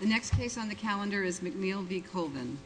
The next case on the calendar is McNeil v. Colvin.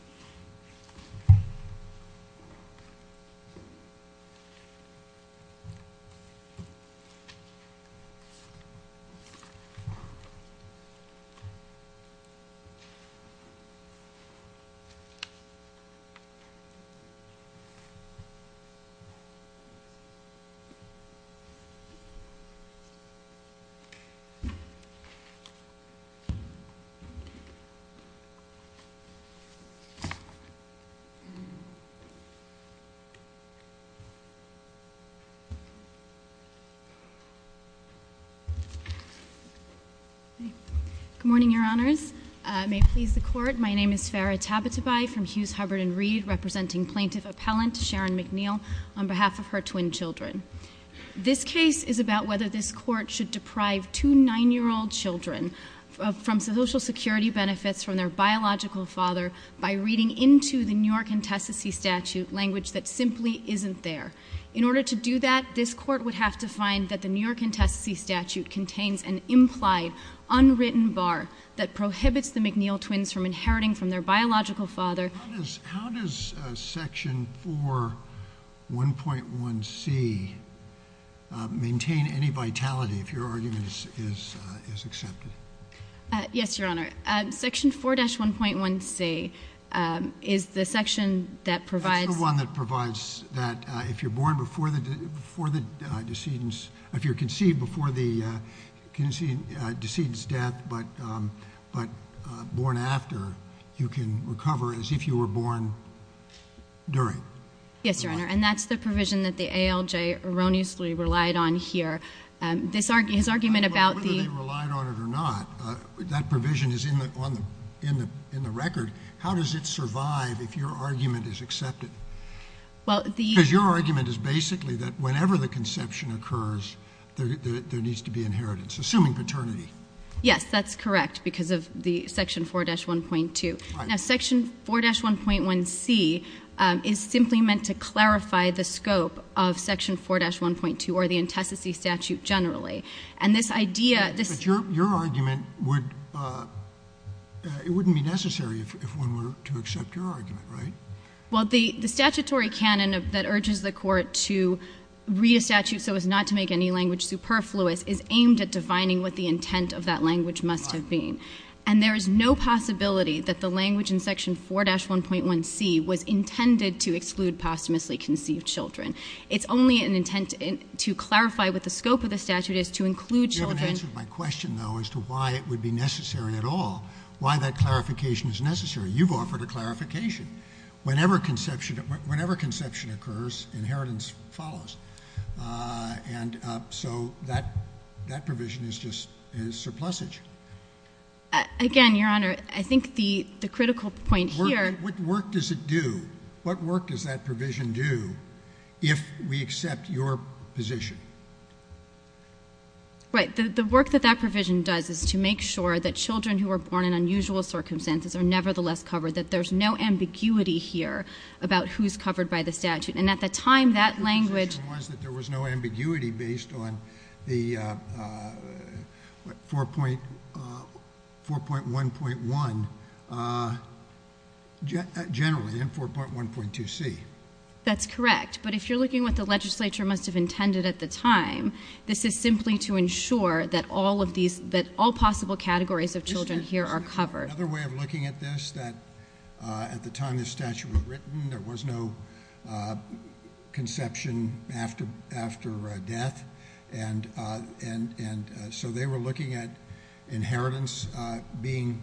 Good morning, Your Honors. May it please the Court, my name is Farrah Tabatabai from Hughes, Hubbard & Reed, representing Plaintiff Appellant Sharon McNeil on behalf of her twin children. This case is about whether this Court should deprive two 9-year-old children from Social Security benefits from their biological father by reading into the New York Intestacy Statute language that simply isn't there. In order to do that, this Court would have to find that the New York Intestacy Statute contains an implied, unwritten bar that prohibits the McNeil twins from inheriting from their If your argument is accepted. Yes, Your Honor. Section 4-1.1c is the section that provides That's the one that provides that if you're conceived before the decedent's death but born after, you can recover as if you were born during. Yes, Your Honor. And that's the provision that the ALJ erroneously relied on here. This argument about whether they relied on it or not, that provision is in the record. How does it survive if your argument is accepted? Because your argument is basically that whenever the conception occurs, there needs to be inheritance, assuming paternity. Yes, that's correct because of the section 4-1.2. Now, section 4-1.1c is simply meant to clarify the scope of section 4-1.2 or the intestacy statute generally. And this idea But your argument would, it wouldn't be necessary if one were to accept your argument, right? Well, the statutory canon that urges the court to read a statute so as not to make any language superfluous is aimed at defining what the intent of that language must have been. And there is no possibility that the language in section 4-1.1c was intended to exclude posthumously conceived children. It's only an intent to clarify what the scope of the statute is to include children You haven't answered my question though as to why it would be necessary at all, why that clarification is necessary. You've offered a clarification. Whenever conception occurs, inheritance follows. And so that provision is just surplusage. Again, your honor, I think the critical point here What work does it do? What work does that provision do if we accept your position? Right, the work that that provision does is to make sure that children who are born in unusual circumstances are nevertheless covered, that there's no ambiguity here about who's covered by the statute. And at the time that language Your position was that there was no ambiguity based on the 4.1.1 generally in 4.1.2c. That's correct. But if you're looking at what the legislature must have intended at the time, this is simply to ensure that all possible categories of children here are covered. Another way of looking at this, at the time this statute was written, there was no conception after death. So they were looking at inheritance being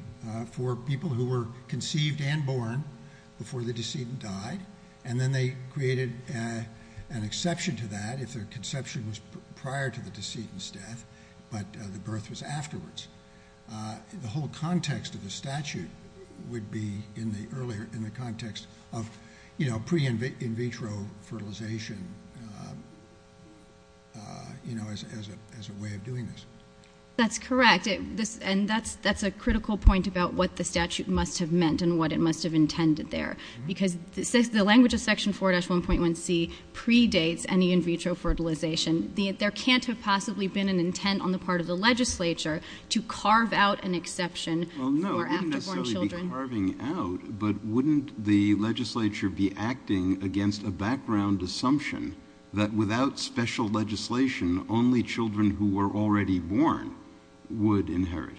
for people who were conceived and born before the decedent died, and then they created an exception to that if their conception was prior to the decedent's death, but the birth was afterwards. The whole context of the statute would be in the earlier, in the context of, you know, pre-in-vitro fertilization, you know, as a way of doing this. That's correct, and that's a critical point about what the statute must have meant and what it must have intended there. Because the language of section 4-1.1c predates any in-vitro fertilization. There can't have possibly been an intent on the part of the legislature to carve out an exception for after-born children. Well, no, it wouldn't necessarily be carving out, but wouldn't the legislature be acting against a background assumption that without special legislation, only children who were already born would inherit?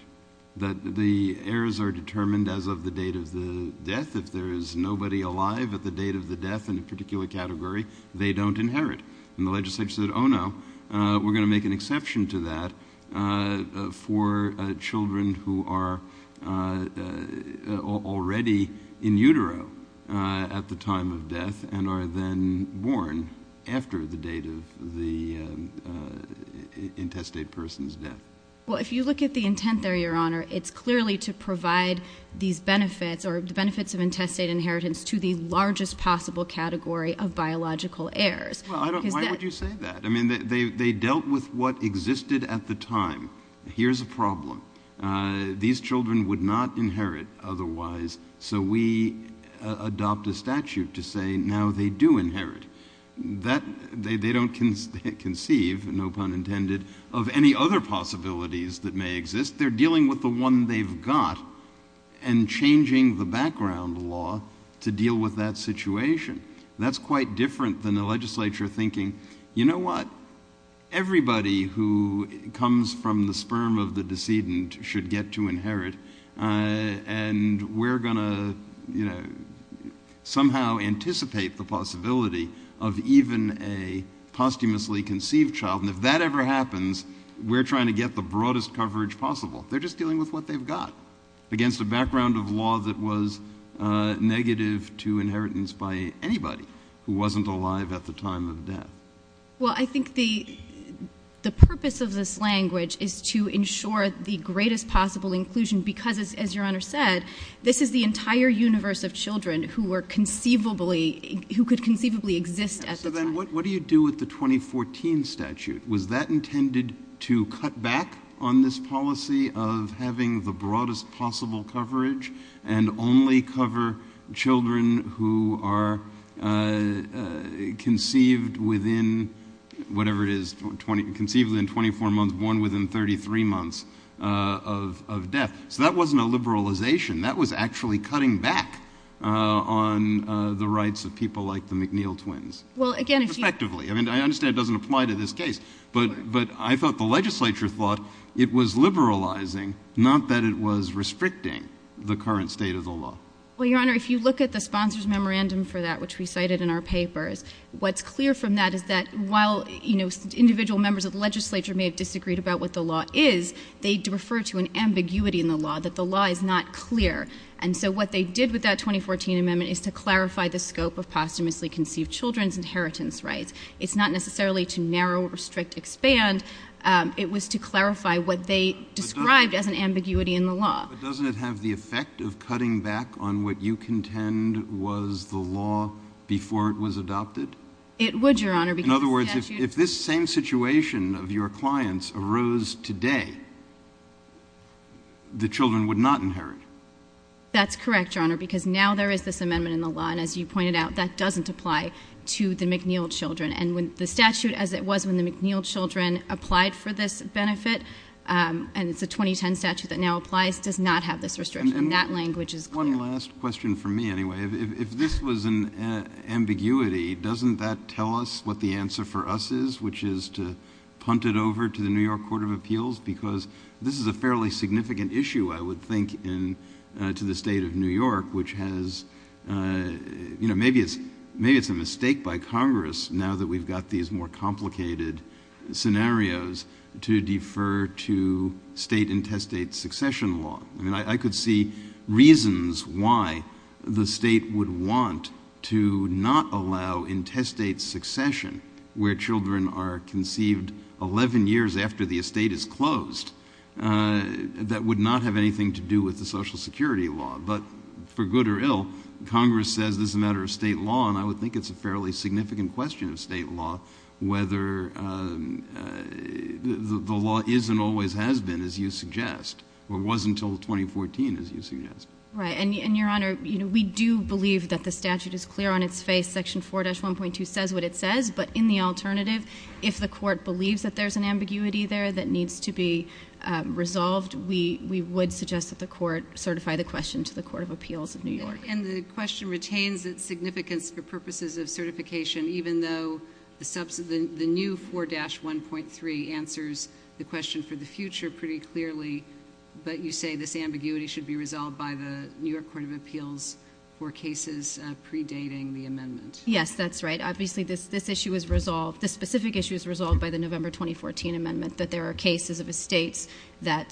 That the heirs are determined as of the date of the death. If there is nobody alive at the date of the death in a particular category, they don't inherit. And the legislature said, oh no, we're going to make an exception to that for children who are already in utero at the time of death and are then born after the date of the intestate person's death. Well, if you look at the intent there, Your Honor, it's clearly to provide these benefits or the benefits of intestate inheritance to the largest possible category of biological heirs. Well, why would you say that? I mean, they dealt with what existed at the time. Here's a problem. These children would not inherit otherwise. So we adopt a statute to say now they do inherit. They don't conceive, no pun intended, of any other possibilities that may exist. They're dealing with the one they've got and changing the background law to deal with that situation. That's quite different than the legislature thinking, you know what, everybody who comes from the sperm of the decedent should get to inherit and we're going to somehow anticipate the possibility of even a posthumously conceived child. And if that ever happens, we're trying to get the broadest coverage possible. They're just dealing with what they've got against a background of law that was negative to inheritance by anybody who wasn't alive at the time of death. Well, I think the purpose of this language is to ensure the greatest possible inclusion because as Your Honor said, this is the entire universe of children who were conceivably, who could conceivably exist at the time. So then what do you do with the 2014 statute? Was that intended to cut back on this policy of having the broadest possible coverage and only cover children who are conceived within, whatever it is, conceived within 24 months, born within 33 months of death? So that wasn't a liberalization. That was actually cutting back on the rights of people like the McNeil twins. Well, again, if you... Perspectively. I mean, I understand it doesn't apply to this case. But I thought the legislature thought it was liberalizing, not that it was restricting the current state of the law. Well, Your Honor, if you look at the sponsor's memorandum for that, which we cited in our papers, what's clear from that is that while, you know, individual members of the legislature may have disagreed about what the law is, they refer to an ambiguity in the law, that the law is not clear. And so what they did with that 2014 amendment is to clarify the scope of posthumously conceived children's inheritance rights. It's not necessarily to narrow, restrict, expand. It was to clarify what they described as an ambiguity in the law. But doesn't it have the effect of cutting back on what you contend was the law before it was adopted? It would, Your Honor, because the statute... In other words, if this same situation of your clients arose today, the children would not inherit. That's correct, Your Honor, because now there is this amendment in the law. And as you pointed out, that doesn't apply to the McNeil children. And when the statute, as it was when the McNeil children applied for this benefit, and it's a 2010 statute that now applies, does not have this restriction. That language is clear. One last question for me, anyway. If this was an ambiguity, doesn't that tell us what the answer for us is, which is to punt it over to the New York Court of Appeals? Because this is a fairly significant issue, I would think, to the State of New York, which has, you know, maybe it's a mistake by Congress, now that we've got these more complicated scenarios, to defer to state intestate succession law. I mean, I could see reasons why the state would want to not allow intestate succession, where children are conceived 11 years after the estate is closed, that would not have anything to do with the Social Security law. But for good or ill, Congress says this is a matter of state law, and I would think it's a fairly significant question of state law, whether the law is and always has been, as you suggest, or was until 2014, as you suggest. Right. And, Your Honor, you know, we do believe that the statute is clear on its face. Section 4-1.2 says what it says. But in the alternative, if the court believes that there's an ambiguity there that needs to be resolved, we would suggest that the court certify the question to the Court of Appeals of New York. And the question retains its significance for purposes of certification, even though the new 4-1.3 answers the question for the future pretty clearly, but you say this ambiguity should be resolved by the New York Court of Appeals for cases predating the amendment. Yes, that's right. Obviously this issue is resolved, this specific issue is resolved by the November 2014 amendment, that there are cases of estates that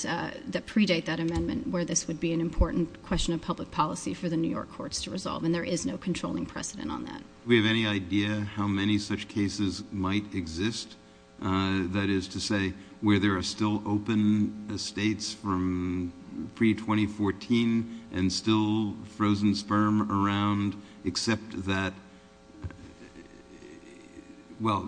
predate that amendment, where this would be an important question of public policy for the New York courts to resolve, and there is no controlling precedent on that. Do we have any idea how many such cases might exist, that is to say, where there are still open estates from pre-2014 and still frozen sperm around, except that, well,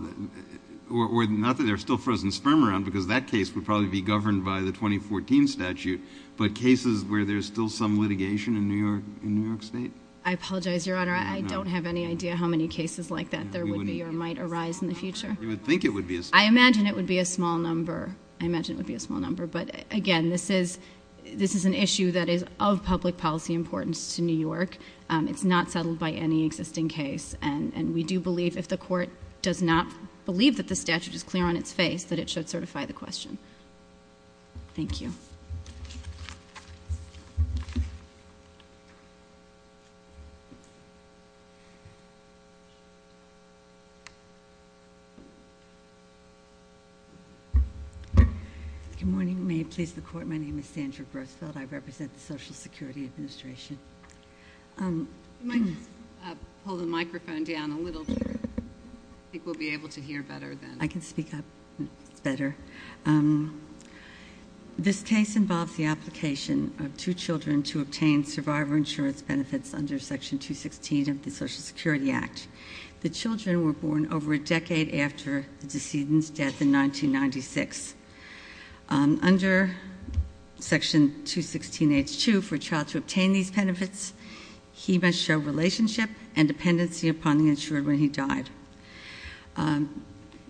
or not that there are still frozen sperm around, because that case would probably be governed by the 2014 statute, but cases where there's still some litigation in New York State? I apologize, Your Honor. I don't have any idea how many cases like that there would be or might arise in the future. You would think it would be a small number. I imagine it would be a small number. I imagine it would be a small number. But again, this is an issue that is of public policy importance to New York. It's not settled by any existing case, and we do believe, if the court does not believe that the statute is clear on its face, that it should certify the question. Thank you. Thank you. Good morning. May it please the Court, my name is Sandra Grossfeld. I represent the Social Security Administration. You might just pull the microphone down a little bit. I think we'll be able to hear better then. I can speak up. It's better. This case involves the application of two children to obtain survivor insurance benefits under Section 216 of the Social Security Act. The children were born over a decade after the decedent's death in 1996. Under Section 216H2, for a child to obtain these benefits, he must show relationship and dependency upon the insured when he died.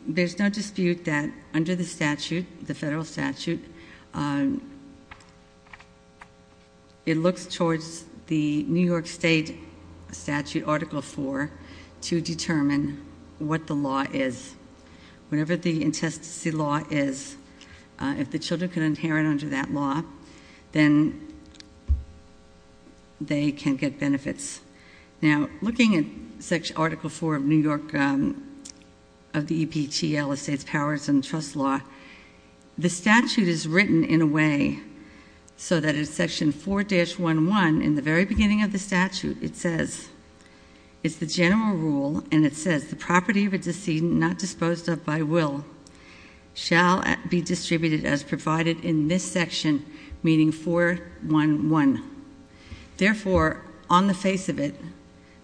There's no dispute that under the statute, the federal statute, it looks towards the New York State Statute Article 4 to determine what the law is. Whatever the intestacy law is, if the children can inherit under that law, then they can get benefits. Now, looking at Article 4 of the EPTL, the States Powers and Trusts Law, the statute is written in a way so that in Section 4-11, in the very beginning of the statute, it says, It's the general rule, and it says, Therefore, on the face of it,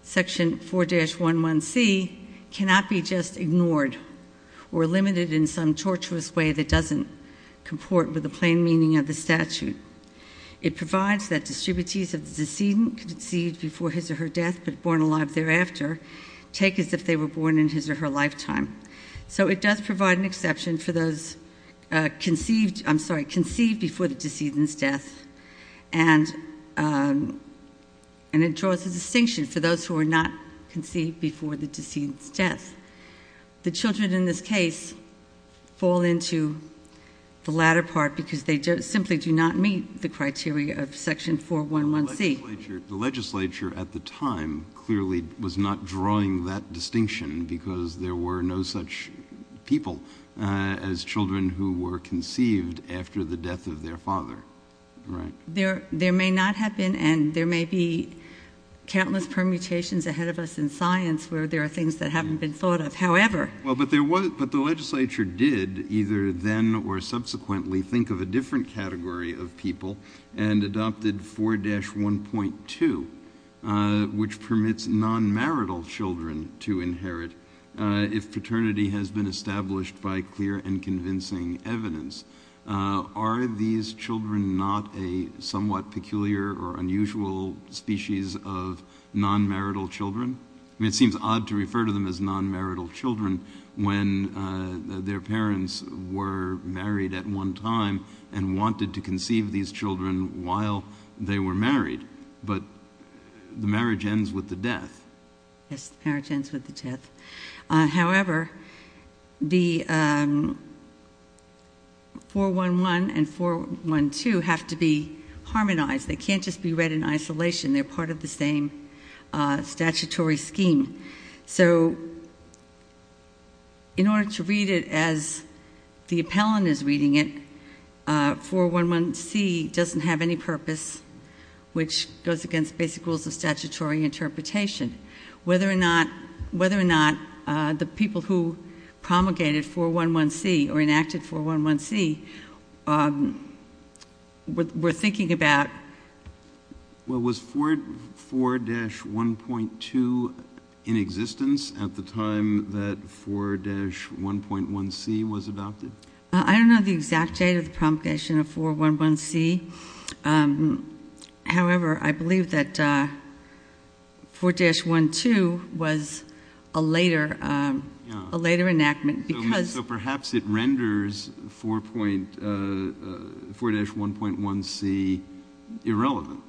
Section 4-11C cannot be just ignored or limited in some tortuous way that doesn't comport with the plain meaning of the statute. It provides that distributees of the decedent conceived before his or her death but born alive thereafter take as if they were born in his or her lifetime. So it does provide an exception for those conceived before the decedent's death, and it draws a distinction for those who are not conceived before the decedent's death. The children in this case fall into the latter part because they simply do not meet the criteria of Section 4-11C. The legislature at the time clearly was not drawing that distinction because there were no such people as children who were conceived after the death of their father. There may not have been, and there may be countless permutations ahead of us in science where there are things that haven't been thought of, however. But the legislature did either then or subsequently think of a different category of people and adopted 4-1.2, which permits non-marital children to inherit if paternity has been established by clear and convincing evidence. Are these children not a somewhat peculiar or unusual species of non-marital children? I mean, it seems odd to refer to them as non-marital children when their parents were married at one time and wanted to conceive these children while they were married. But the marriage ends with the death. Yes, the marriage ends with the death. However, 4-1-1 and 4-1-2 have to be harmonized. They can't just be read in isolation. They're part of the same statutory scheme. So in order to read it as the appellant is reading it, 4-1-1c doesn't have any purpose, which goes against basic rules of statutory interpretation. Whether or not the people who promulgated 4-1-1c or enacted 4-1-1c were thinking about Well, was 4-1.2 in existence at the time that 4-1.1c was adopted? I don't know the exact date of the promulgation of 4-1.1c. However, I believe that 4-1.2 was a later enactment because So perhaps it renders 4-1.1c irrelevant.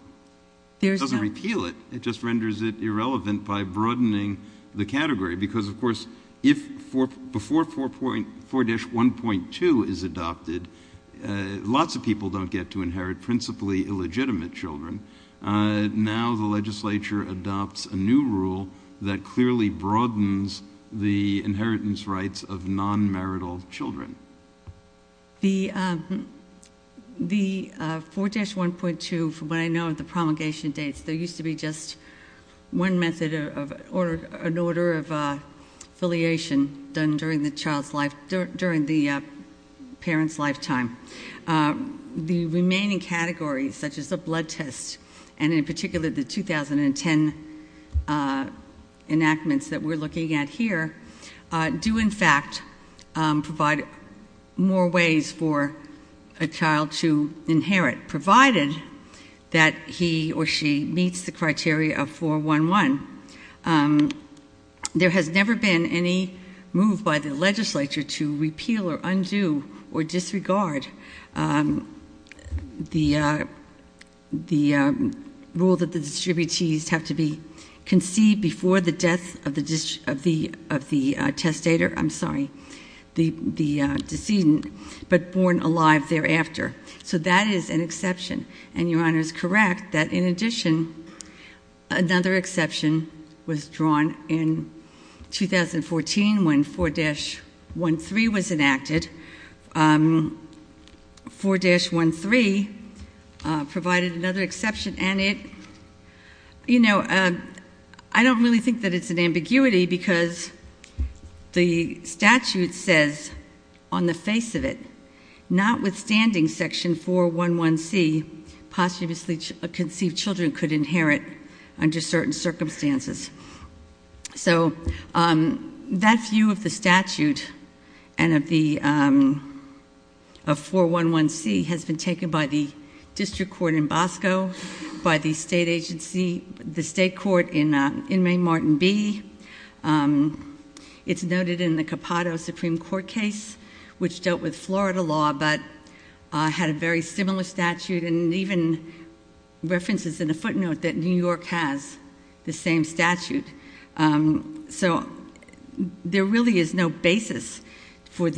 It doesn't repeal it. It just renders it irrelevant by broadening the category because, of course, before 4-1.2 is adopted, lots of people don't get to inherit principally illegitimate children. Now the legislature adopts a new rule that clearly broadens the inheritance rights of non-marital children. The 4-1.2, from what I know of the promulgation dates, there used to be just one method or an order of affiliation done during the parent's lifetime. The remaining categories, such as the blood test and in particular the 2010 enactments that we're looking at here, do in fact provide more ways for a child to inherit provided that he or she meets the criteria of 4-1-1. There has never been any move by the legislature to repeal or undo or disregard the rule that the distributees have to be conceived before the death of the testator, I'm sorry, the decedent, but born alive thereafter. So that is an exception. And Your Honor is correct that, in addition, another exception was drawn in 2014 when 4-1.3 was enacted. 4-1.3 provided another exception and it, you know, I don't really think that it's an ambiguity because the statute says on the face of it, notwithstanding Section 4-1-1-C, posthumously conceived children could inherit under certain circumstances. So that view of the statute and of 4-1-1-C has been taken by the district court in Bosco, by the state court in Maine-Martin B. It's noted in the Capado Supreme Court case, which dealt with Florida law but had a very similar statute and even references in the footnote that New York has the same statute. So there really is no basis for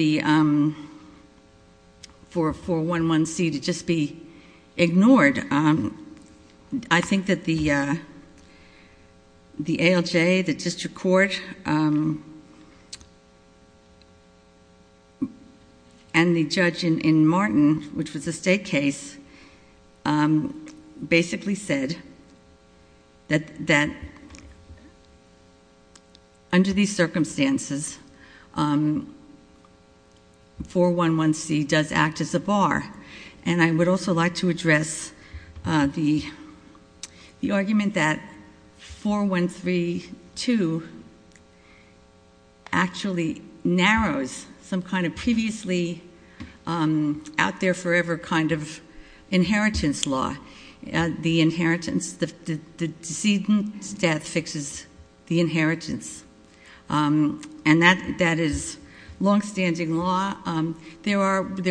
4-1-1-C to just be ignored. I think that the ALJ, the district court, and the judge in Martin, which was a state case, basically said that under these circumstances, 4-1-1-C does act as a bar. And I would also like to address the argument that 4-1-3-2 actually narrows some kind of previously out-there-forever kind of inheritance law. The decedent's death fixes the inheritance. And that is longstanding law. There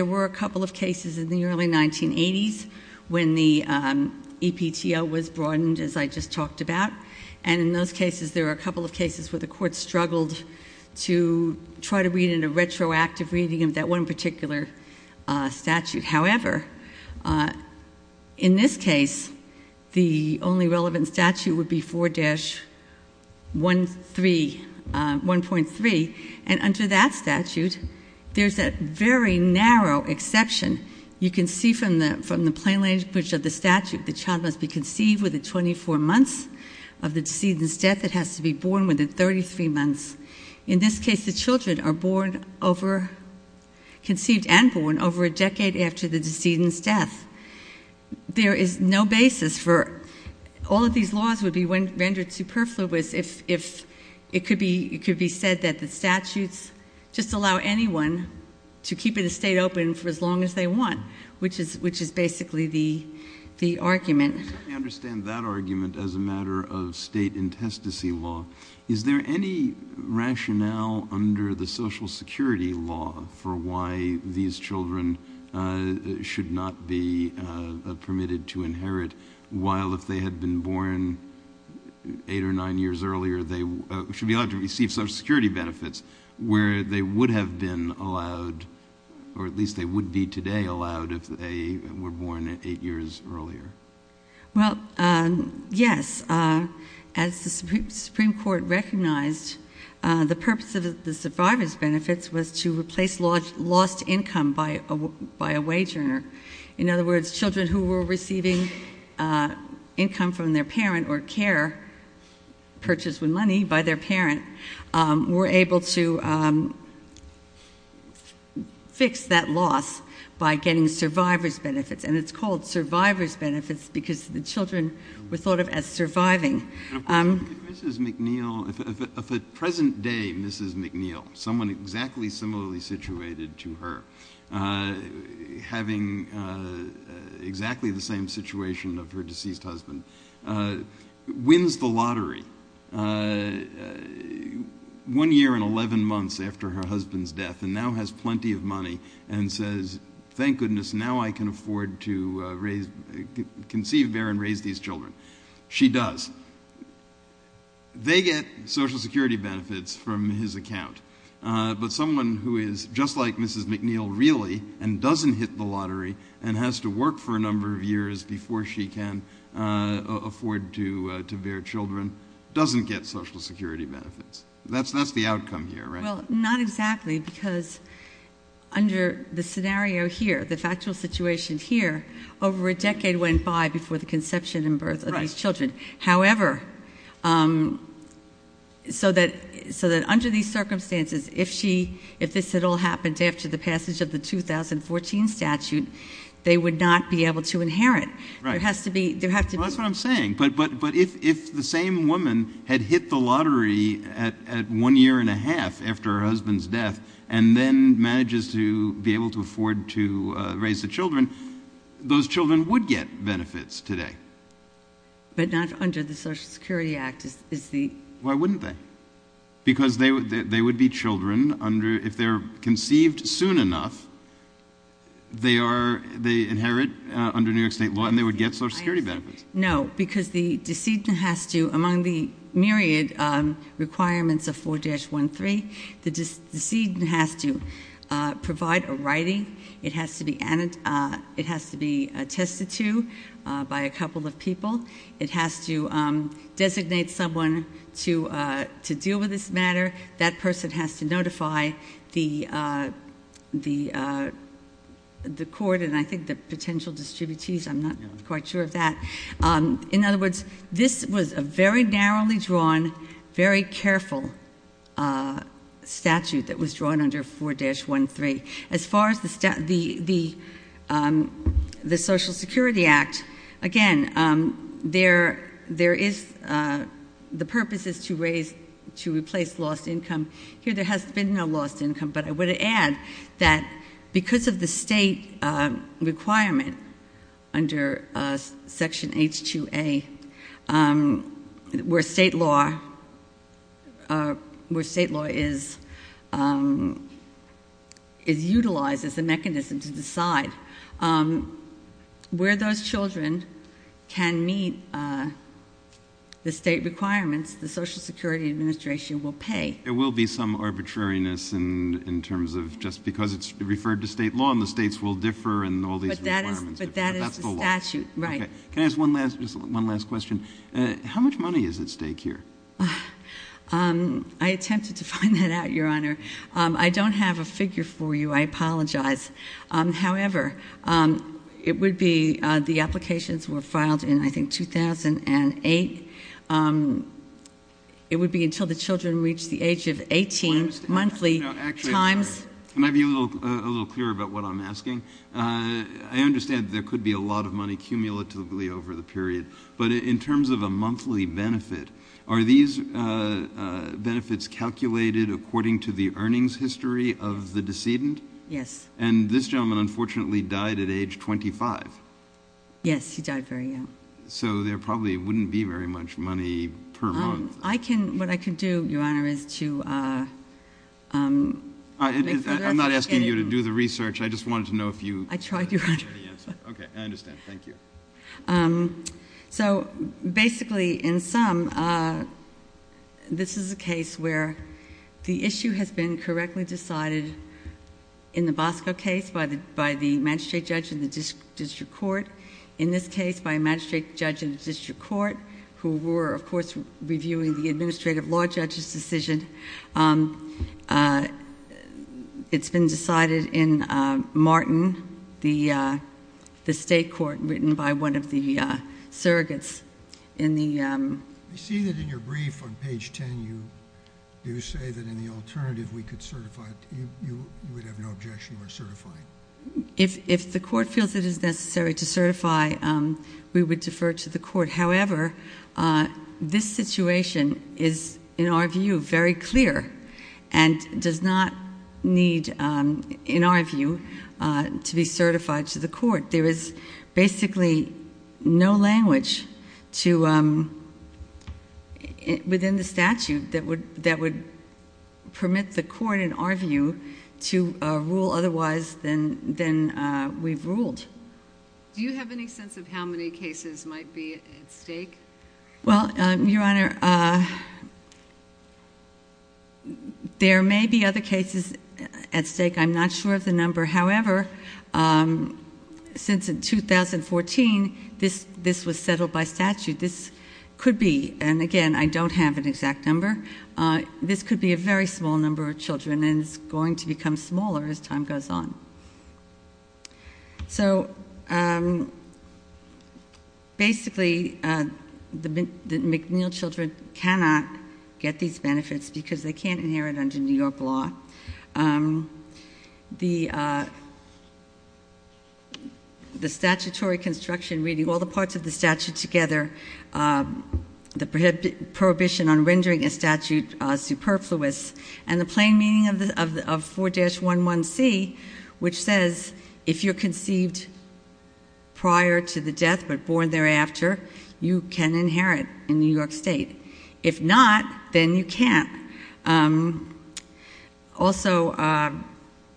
were a couple of cases in the early 1980s when the EPTO was broadened, as I just talked about. And in those cases, there were a couple of cases where the court struggled to try to read in a retroactive reading of that one particular statute. However, in this case, the only relevant statute would be 4-1.3. And under that statute, there's a very narrow exception. You can see from the plain language of the statute that the child must be conceived within 24 months of the decedent's death. It has to be born within 33 months. In this case, the children are conceived and born over a decade after the decedent's death. There is no basis for... All of these laws would be rendered superfluous if it could be said that the statutes just allow anyone to keep an estate open for as long as they want, which is basically the argument. Let me understand that argument as a matter of state intestacy law. Is there any rationale under the Social Security law for why these children should not be permitted to inherit while, if they had been born 8 or 9 years earlier, they should be allowed to receive Social Security benefits, where they would have been allowed, or at least they would be today allowed, if they were born 8 years earlier? Well, yes. As the Supreme Court recognized, the purpose of the survivor's benefits was to replace lost income by a wage earner. In other words, children who were receiving income from their parent or care, purchased with money by their parent, were able to fix that loss by getting survivor's benefits. And it's called survivor's benefits because the children were thought of as surviving. Mrs McNeill... If a present-day Mrs McNeill, someone exactly similarly situated to her, having exactly the same situation of her deceased husband, wins the lottery one year and 11 months after her husband's death and now has plenty of money and says, thank goodness, now I can afford to conceive, bear and raise these children. She does. They get Social Security benefits from his account. But someone who is just like Mrs McNeill, really, and doesn't hit the lottery and has to work for a number of years before she can afford to bear children, doesn't get Social Security benefits. That's the outcome here, right? Well, not exactly, because under the scenario here, the factual situation here, over a decade went by before the conception and birth of these children. However, so that under these circumstances, if this at all happened after the passage of the 2014 statute, they would not be able to inherit. That's what I'm saying. But if the same woman had hit the lottery at one year and a half after her husband's death and then manages to be able to afford to raise the children, those children would get benefits today. But not under the Social Security Act. Why wouldn't they? Because they would be children. If they're conceived soon enough, they inherit under New York State law, and they would get Social Security benefits. No, because the decedent has to, among the myriad requirements of 4-1-3, the decedent has to provide a writing. It has to be attested to by a couple of people. It has to designate someone to deal with this matter. That person has to notify the court and I think the potential distributees. I'm not quite sure of that. In other words, this was a very narrowly drawn, very careful statute that was drawn under 4-1-3. As far as the Social Security Act, again, the purpose is to replace lost income. Here there has been no lost income, but I would add that because of the state requirement under Section H-2A, where state law is utilized as a mechanism to decide, where those children can meet the state requirements, the Social Security Administration will pay. There will be some arbitrariness in terms of just because it's referred to state law and the states will differ and all these requirements. But that is the statute, right. Can I ask one last question? How much money is at stake here? I attempted to find that out, Your Honor. I don't have a figure for you. I apologize. However, the applications were filed in, I think, 2008. It would be until the children reach the age of 18, monthly times... Can I be a little clearer about what I'm asking? I understand there could be a lot of money cumulatively over the period, but in terms of a monthly benefit, are these benefits calculated according to the earnings history of the decedent? Yes. And this gentleman, unfortunately, died at age 25. Yes, he died very young. So there probably wouldn't be very much money per month. What I can do, Your Honor, is to... I'm not asking you to do the research. I just wanted to know if you... I tried, Your Honor. Okay, I understand. Thank you. So basically, in sum, this is a case where the issue has been correctly decided in the Bosco case by the magistrate judge in the district court, in this case by a magistrate judge in the district court, who were, of course, reviewing the administrative law judge's decision. It's been decided in Martin, the state court written by one of the surrogates in the... I see that in your brief on page 10, you do say that in the alternative, we could certify it. You would have no objection to our certifying? If the court feels it is necessary to certify, we would defer to the court. However, this situation is, in our view, very clear and does not need, in our view, to be certified to the court. There is basically no language within the statute that would permit the court, in our view, to rule otherwise than we've ruled. Do you have any sense of how many cases might be at stake? Well, Your Honor, there may be other cases at stake. I'm not sure of the number. However, since 2014, this was settled by statute. This could be, and again, I don't have an exact number, this could be a very small number of children and it's going to become smaller as time goes on. So, basically, the McNeil children cannot get these benefits because they can't inherit under New York law. The statutory construction, reading all the parts of the statute together, the prohibition on rendering a statute superfluous, and the plain meaning of 4-11C, which says if you're conceived prior to the death but born thereafter, you can inherit in New York state. If not, then you can't. Also,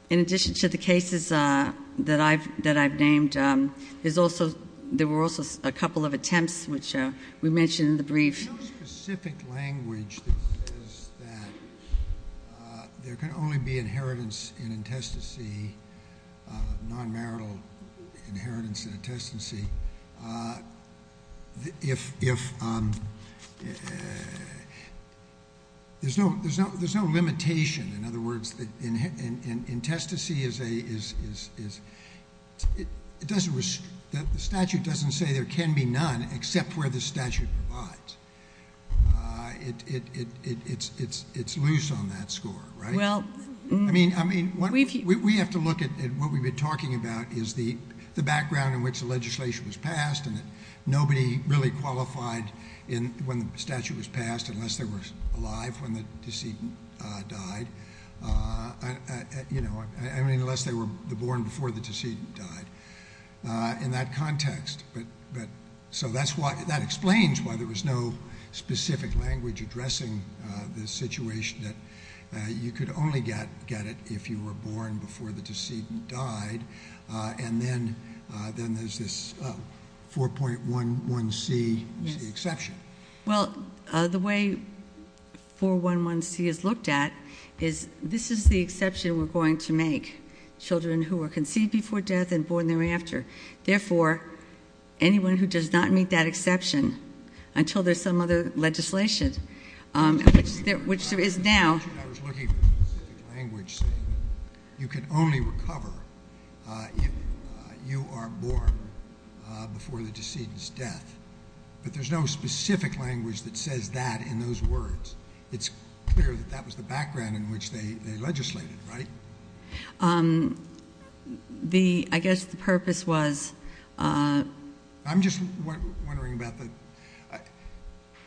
in addition to the cases that I've named, there were also a couple of attempts, which we mentioned in the brief. There's no specific language that says that there can only be inheritance in intestacy, non-marital inheritance in intestancy, if there's no limitation. In other words, the statute doesn't say there can be none except where the statute provides. It's loose on that score, right? We have to look at what we've been talking about is the background in which the legislation was passed and that nobody really qualified when the statute was passed unless they were alive when the decedent died. I mean, unless they were born before the decedent died. In that context, that explains why there was no specific language addressing the situation that you could only get it if you were born before the decedent died, and then there's this 4.11c exception. Well, the way 4.11c is looked at is this is the exception we're going to make, children who are conceived before death and born thereafter. Therefore, anyone who does not meet that exception until there's some other legislation, which there is now... In the statute, I was looking for a specific language saying you can only recover if you are born before the decedent's death, but there's no specific language that says that in those words. It's clear that that was the background in which they legislated, right? I guess the purpose was... I'm just wondering about the...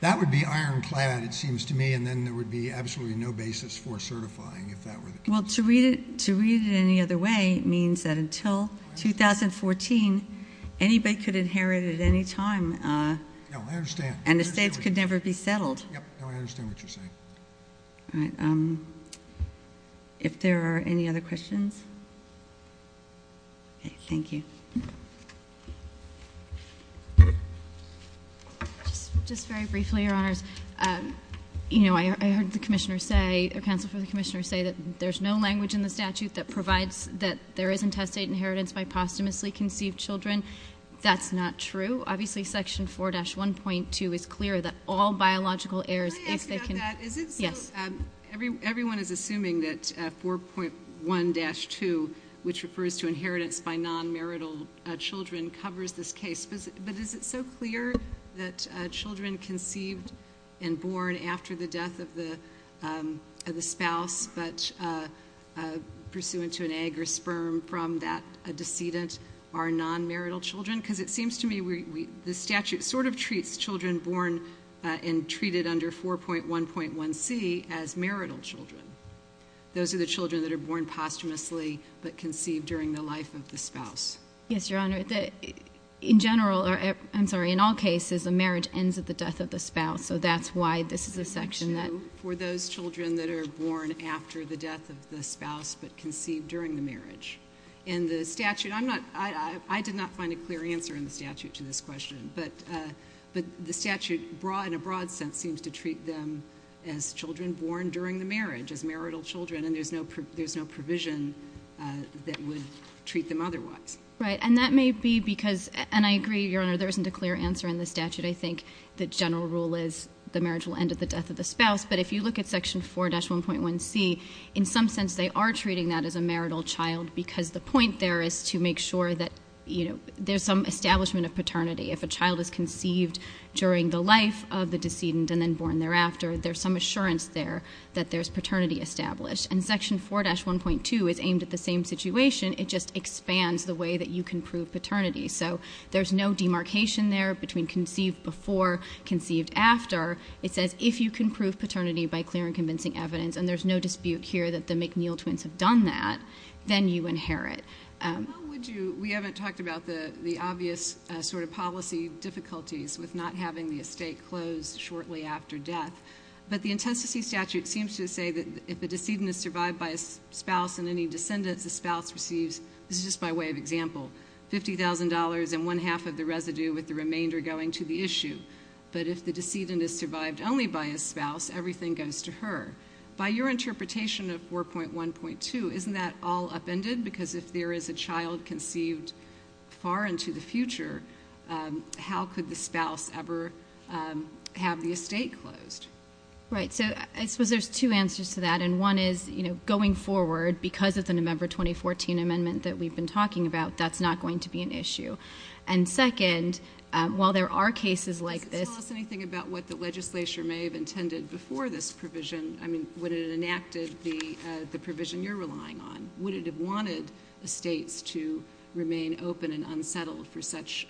That would be ironclad, it seems to me, and then there would be absolutely no basis for certifying, if that were the case. Well, to read it any other way means that until 2014, anybody could inherit at any time. No, I understand. And the states could never be settled. No, I understand what you're saying. All right. If there are any other questions? Okay, thank you. Just very briefly, Your Honors. You know, I heard the commissioner say, or counsel for the commissioner, say that there's no language in the statute that provides that there is intestate inheritance by posthumously conceived children. That's not true. Obviously, Section 4-1.2 is clear that all biological heirs... Can I ask about that? Yes. Everyone is assuming that 4.1-2, which refers to inheritance by non-marital children, covers this case. But is it so clear that children conceived and born after the death of the spouse but pursuant to an egg or sperm from that decedent are non-marital children? Because it seems to me the statute sort of treats children born and treated under 4.1.1c as marital children. Those are the children that are born posthumously but conceived during the life of the spouse. Yes, Your Honor. In general, I'm sorry, in all cases, a marriage ends at the death of the spouse. So that's why this is a section that... For those children that are born after the death of the spouse but conceived during the marriage. In the statute, I'm not... I did not find a clear answer in the statute to this question. But the statute, in a broad sense, seems to treat them as children born during the marriage, as marital children, and there's no provision that would treat them otherwise. Right, and that may be because... And I agree, Your Honor, there isn't a clear answer in the statute. I think the general rule is the marriage will end at the death of the spouse. But if you look at Section 4-1.1c, in some sense they are treating that as a marital child because the point there is to make sure that, you know, there's some establishment of paternity. If a child is conceived during the life of the decedent and then born thereafter, there's some assurance there that there's paternity established. And Section 4-1.2 is aimed at the same situation. It just expands the way that you can prove paternity. So there's no demarcation there between conceived before, conceived after. It says if you can prove paternity by clear and convincing evidence, and there's no dispute here that the McNeil twins have done that, then you inherit. How would you... We haven't talked about the obvious sort of policy difficulties with not having the estate closed shortly after death. But the intestacy statute seems to say that if the decedent is survived by a spouse and any descendants the spouse receives, this is just by way of example, $50,000 and one-half of the residue with the remainder going to the issue. But if the decedent is survived only by a spouse, everything goes to her. By your interpretation of 4.1.2, isn't that all upended? Because if there is a child conceived far into the future, how could the spouse ever have the estate closed? Right, so I suppose there's two answers to that, and one is going forward because of the November 2014 amendment that we've been talking about, that's not going to be an issue. And second, while there are cases like this... Does this tell us anything about what the legislature may have intended before this provision? I mean, would it have enacted the provision you're relying on? Would it have wanted estates to remain open and unsettled for such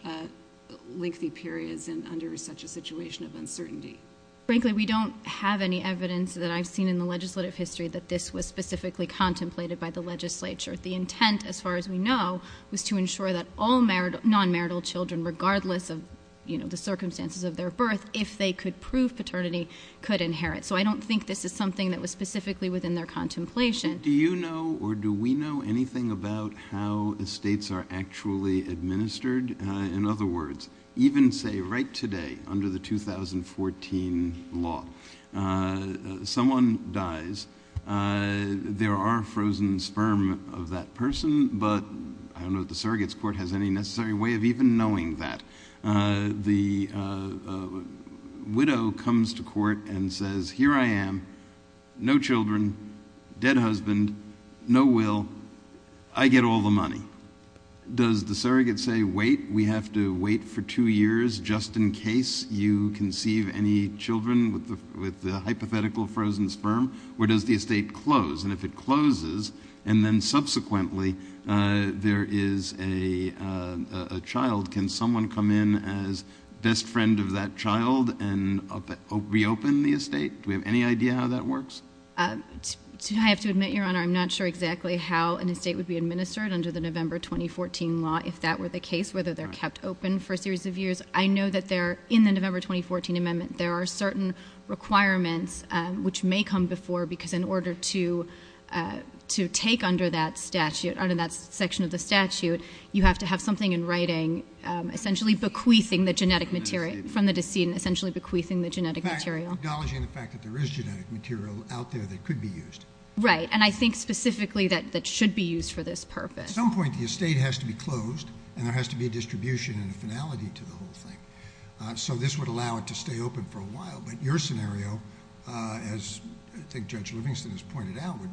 lengthy periods and under such a situation of uncertainty? Frankly, we don't have any evidence that I've seen in the legislative history that this was specifically contemplated by the legislature. The intent, as far as we know, was to ensure that all non-marital children, regardless of the circumstances of their birth, if they could prove paternity, could inherit. So I don't think this is something that was specifically within their contemplation. Do you know or do we know anything about how estates are actually administered? In other words, even say right today under the 2014 law, someone dies, there are frozen sperm of that person, but I don't know if the surrogates' court has any necessary way of even knowing that. The widow comes to court and says, here I am, no children, dead husband, no will, I get all the money. Does the surrogate say, wait, we have to wait for two years just in case you conceive any children with the hypothetical frozen sperm? Or does the estate close? And if it closes and then subsequently there is a child, can someone come in as best friend of that child and reopen the estate? Do we have any idea how that works? I have to admit, Your Honor, I'm not sure exactly how an estate would be administered under the November 2014 law, if that were the case, whether they're kept open for a series of years. I know that in the November 2014 amendment, there are certain requirements which may come before because in order to take under that statute, under that section of the statute, you have to have something in writing essentially bequeathing the genetic material, from the decedent essentially bequeathing the genetic material. Acknowledging the fact that there is genetic material out there that could be used. Right, and I think specifically that it should be used for this purpose. At some point the estate has to be closed and there has to be a distribution and a finality to the whole thing. So this would allow it to stay open for a while, but your scenario, as I think Judge Livingston has pointed out, would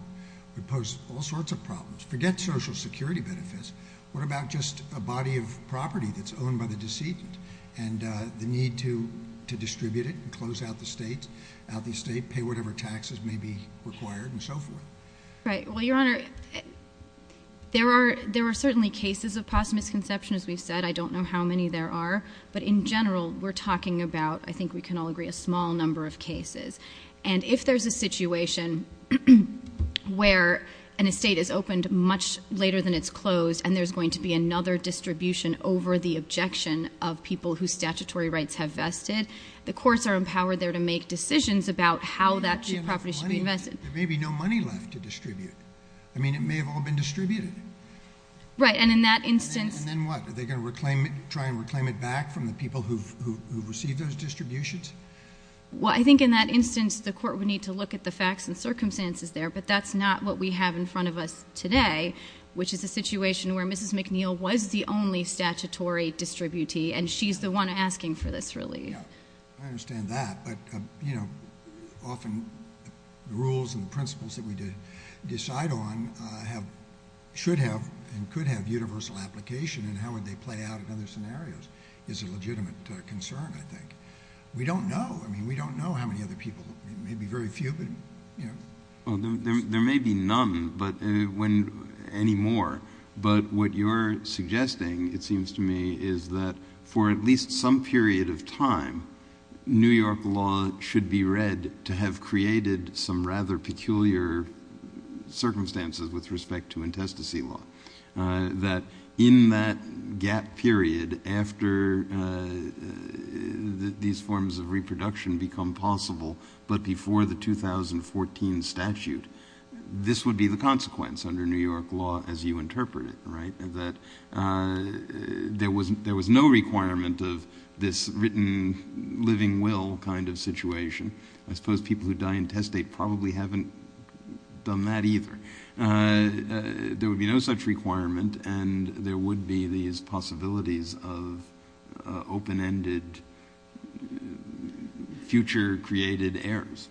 pose all sorts of problems. Forget social security benefits, what about just a body of property that's owned by the decedent and the need to distribute it and close out the estate, pay whatever taxes may be required and so forth? Right, well, Your Honor, there are certainly cases of possible misconception, as we've said. I don't know how many there are, but in general we're talking about, I think we can all agree, a small number of cases. And if there's a situation where an estate is opened much later than it's closed and there's going to be another distribution over the objection of people whose statutory rights have vested, the courts are empowered there to make decisions about how that property should be vested. There may be no money left to distribute. I mean, it may have all been distributed. Right, and in that instance... And then what? Are they going to try and reclaim it back from the people who've received those distributions? Well, I think in that instance, the court would need to look at the facts and circumstances there, but that's not what we have in front of us today, which is a situation where Mrs. McNeil was the only statutory distributee and she's the one asking for this relief. I understand that, but, you know, often the rules and the principles that we decide on should have and could have universal application and how would they play out in other scenarios is a legitimate concern, I think. We don't know. I mean, we don't know how many other people... There may be very few, but, you know... Well, there may be none anymore, but what you're suggesting, it seems to me, is that for at least some period of time, New York law should be read to have created some rather peculiar circumstances with respect to intestacy law. That in that gap period, after these forms of reproduction become possible, but before the 2014 statute, this would be the consequence under New York law, as you interpret it, right? That there was no requirement of this written living will kind of situation. I suppose people who die intestate probably haven't done that either. There would be no such requirement and there would be these possibilities of open-ended, future-created heirs.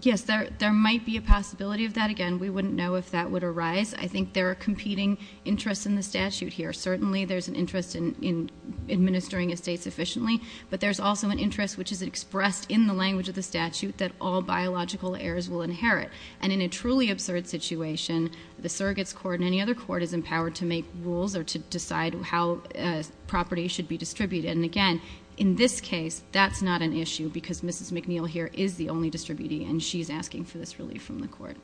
Yes, there might be a possibility of that. Again, we wouldn't know if that would arise. I think there are competing interests in the statute here. Certainly there's an interest in administering estates efficiently, but there's also an interest which is expressed in the language of the statute that all biological heirs will inherit. And in a truly absurd situation, the surrogates court and any other court is empowered to make rules or to decide how property should be distributed. And again, in this case, that's not an issue because Mrs. McNeil here is the only distributee and she's asking for this relief from the court.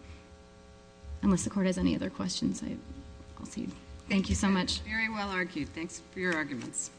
Unless the court has any other questions, I'll cede. Thank you so much. Very well argued. Thanks for your arguments.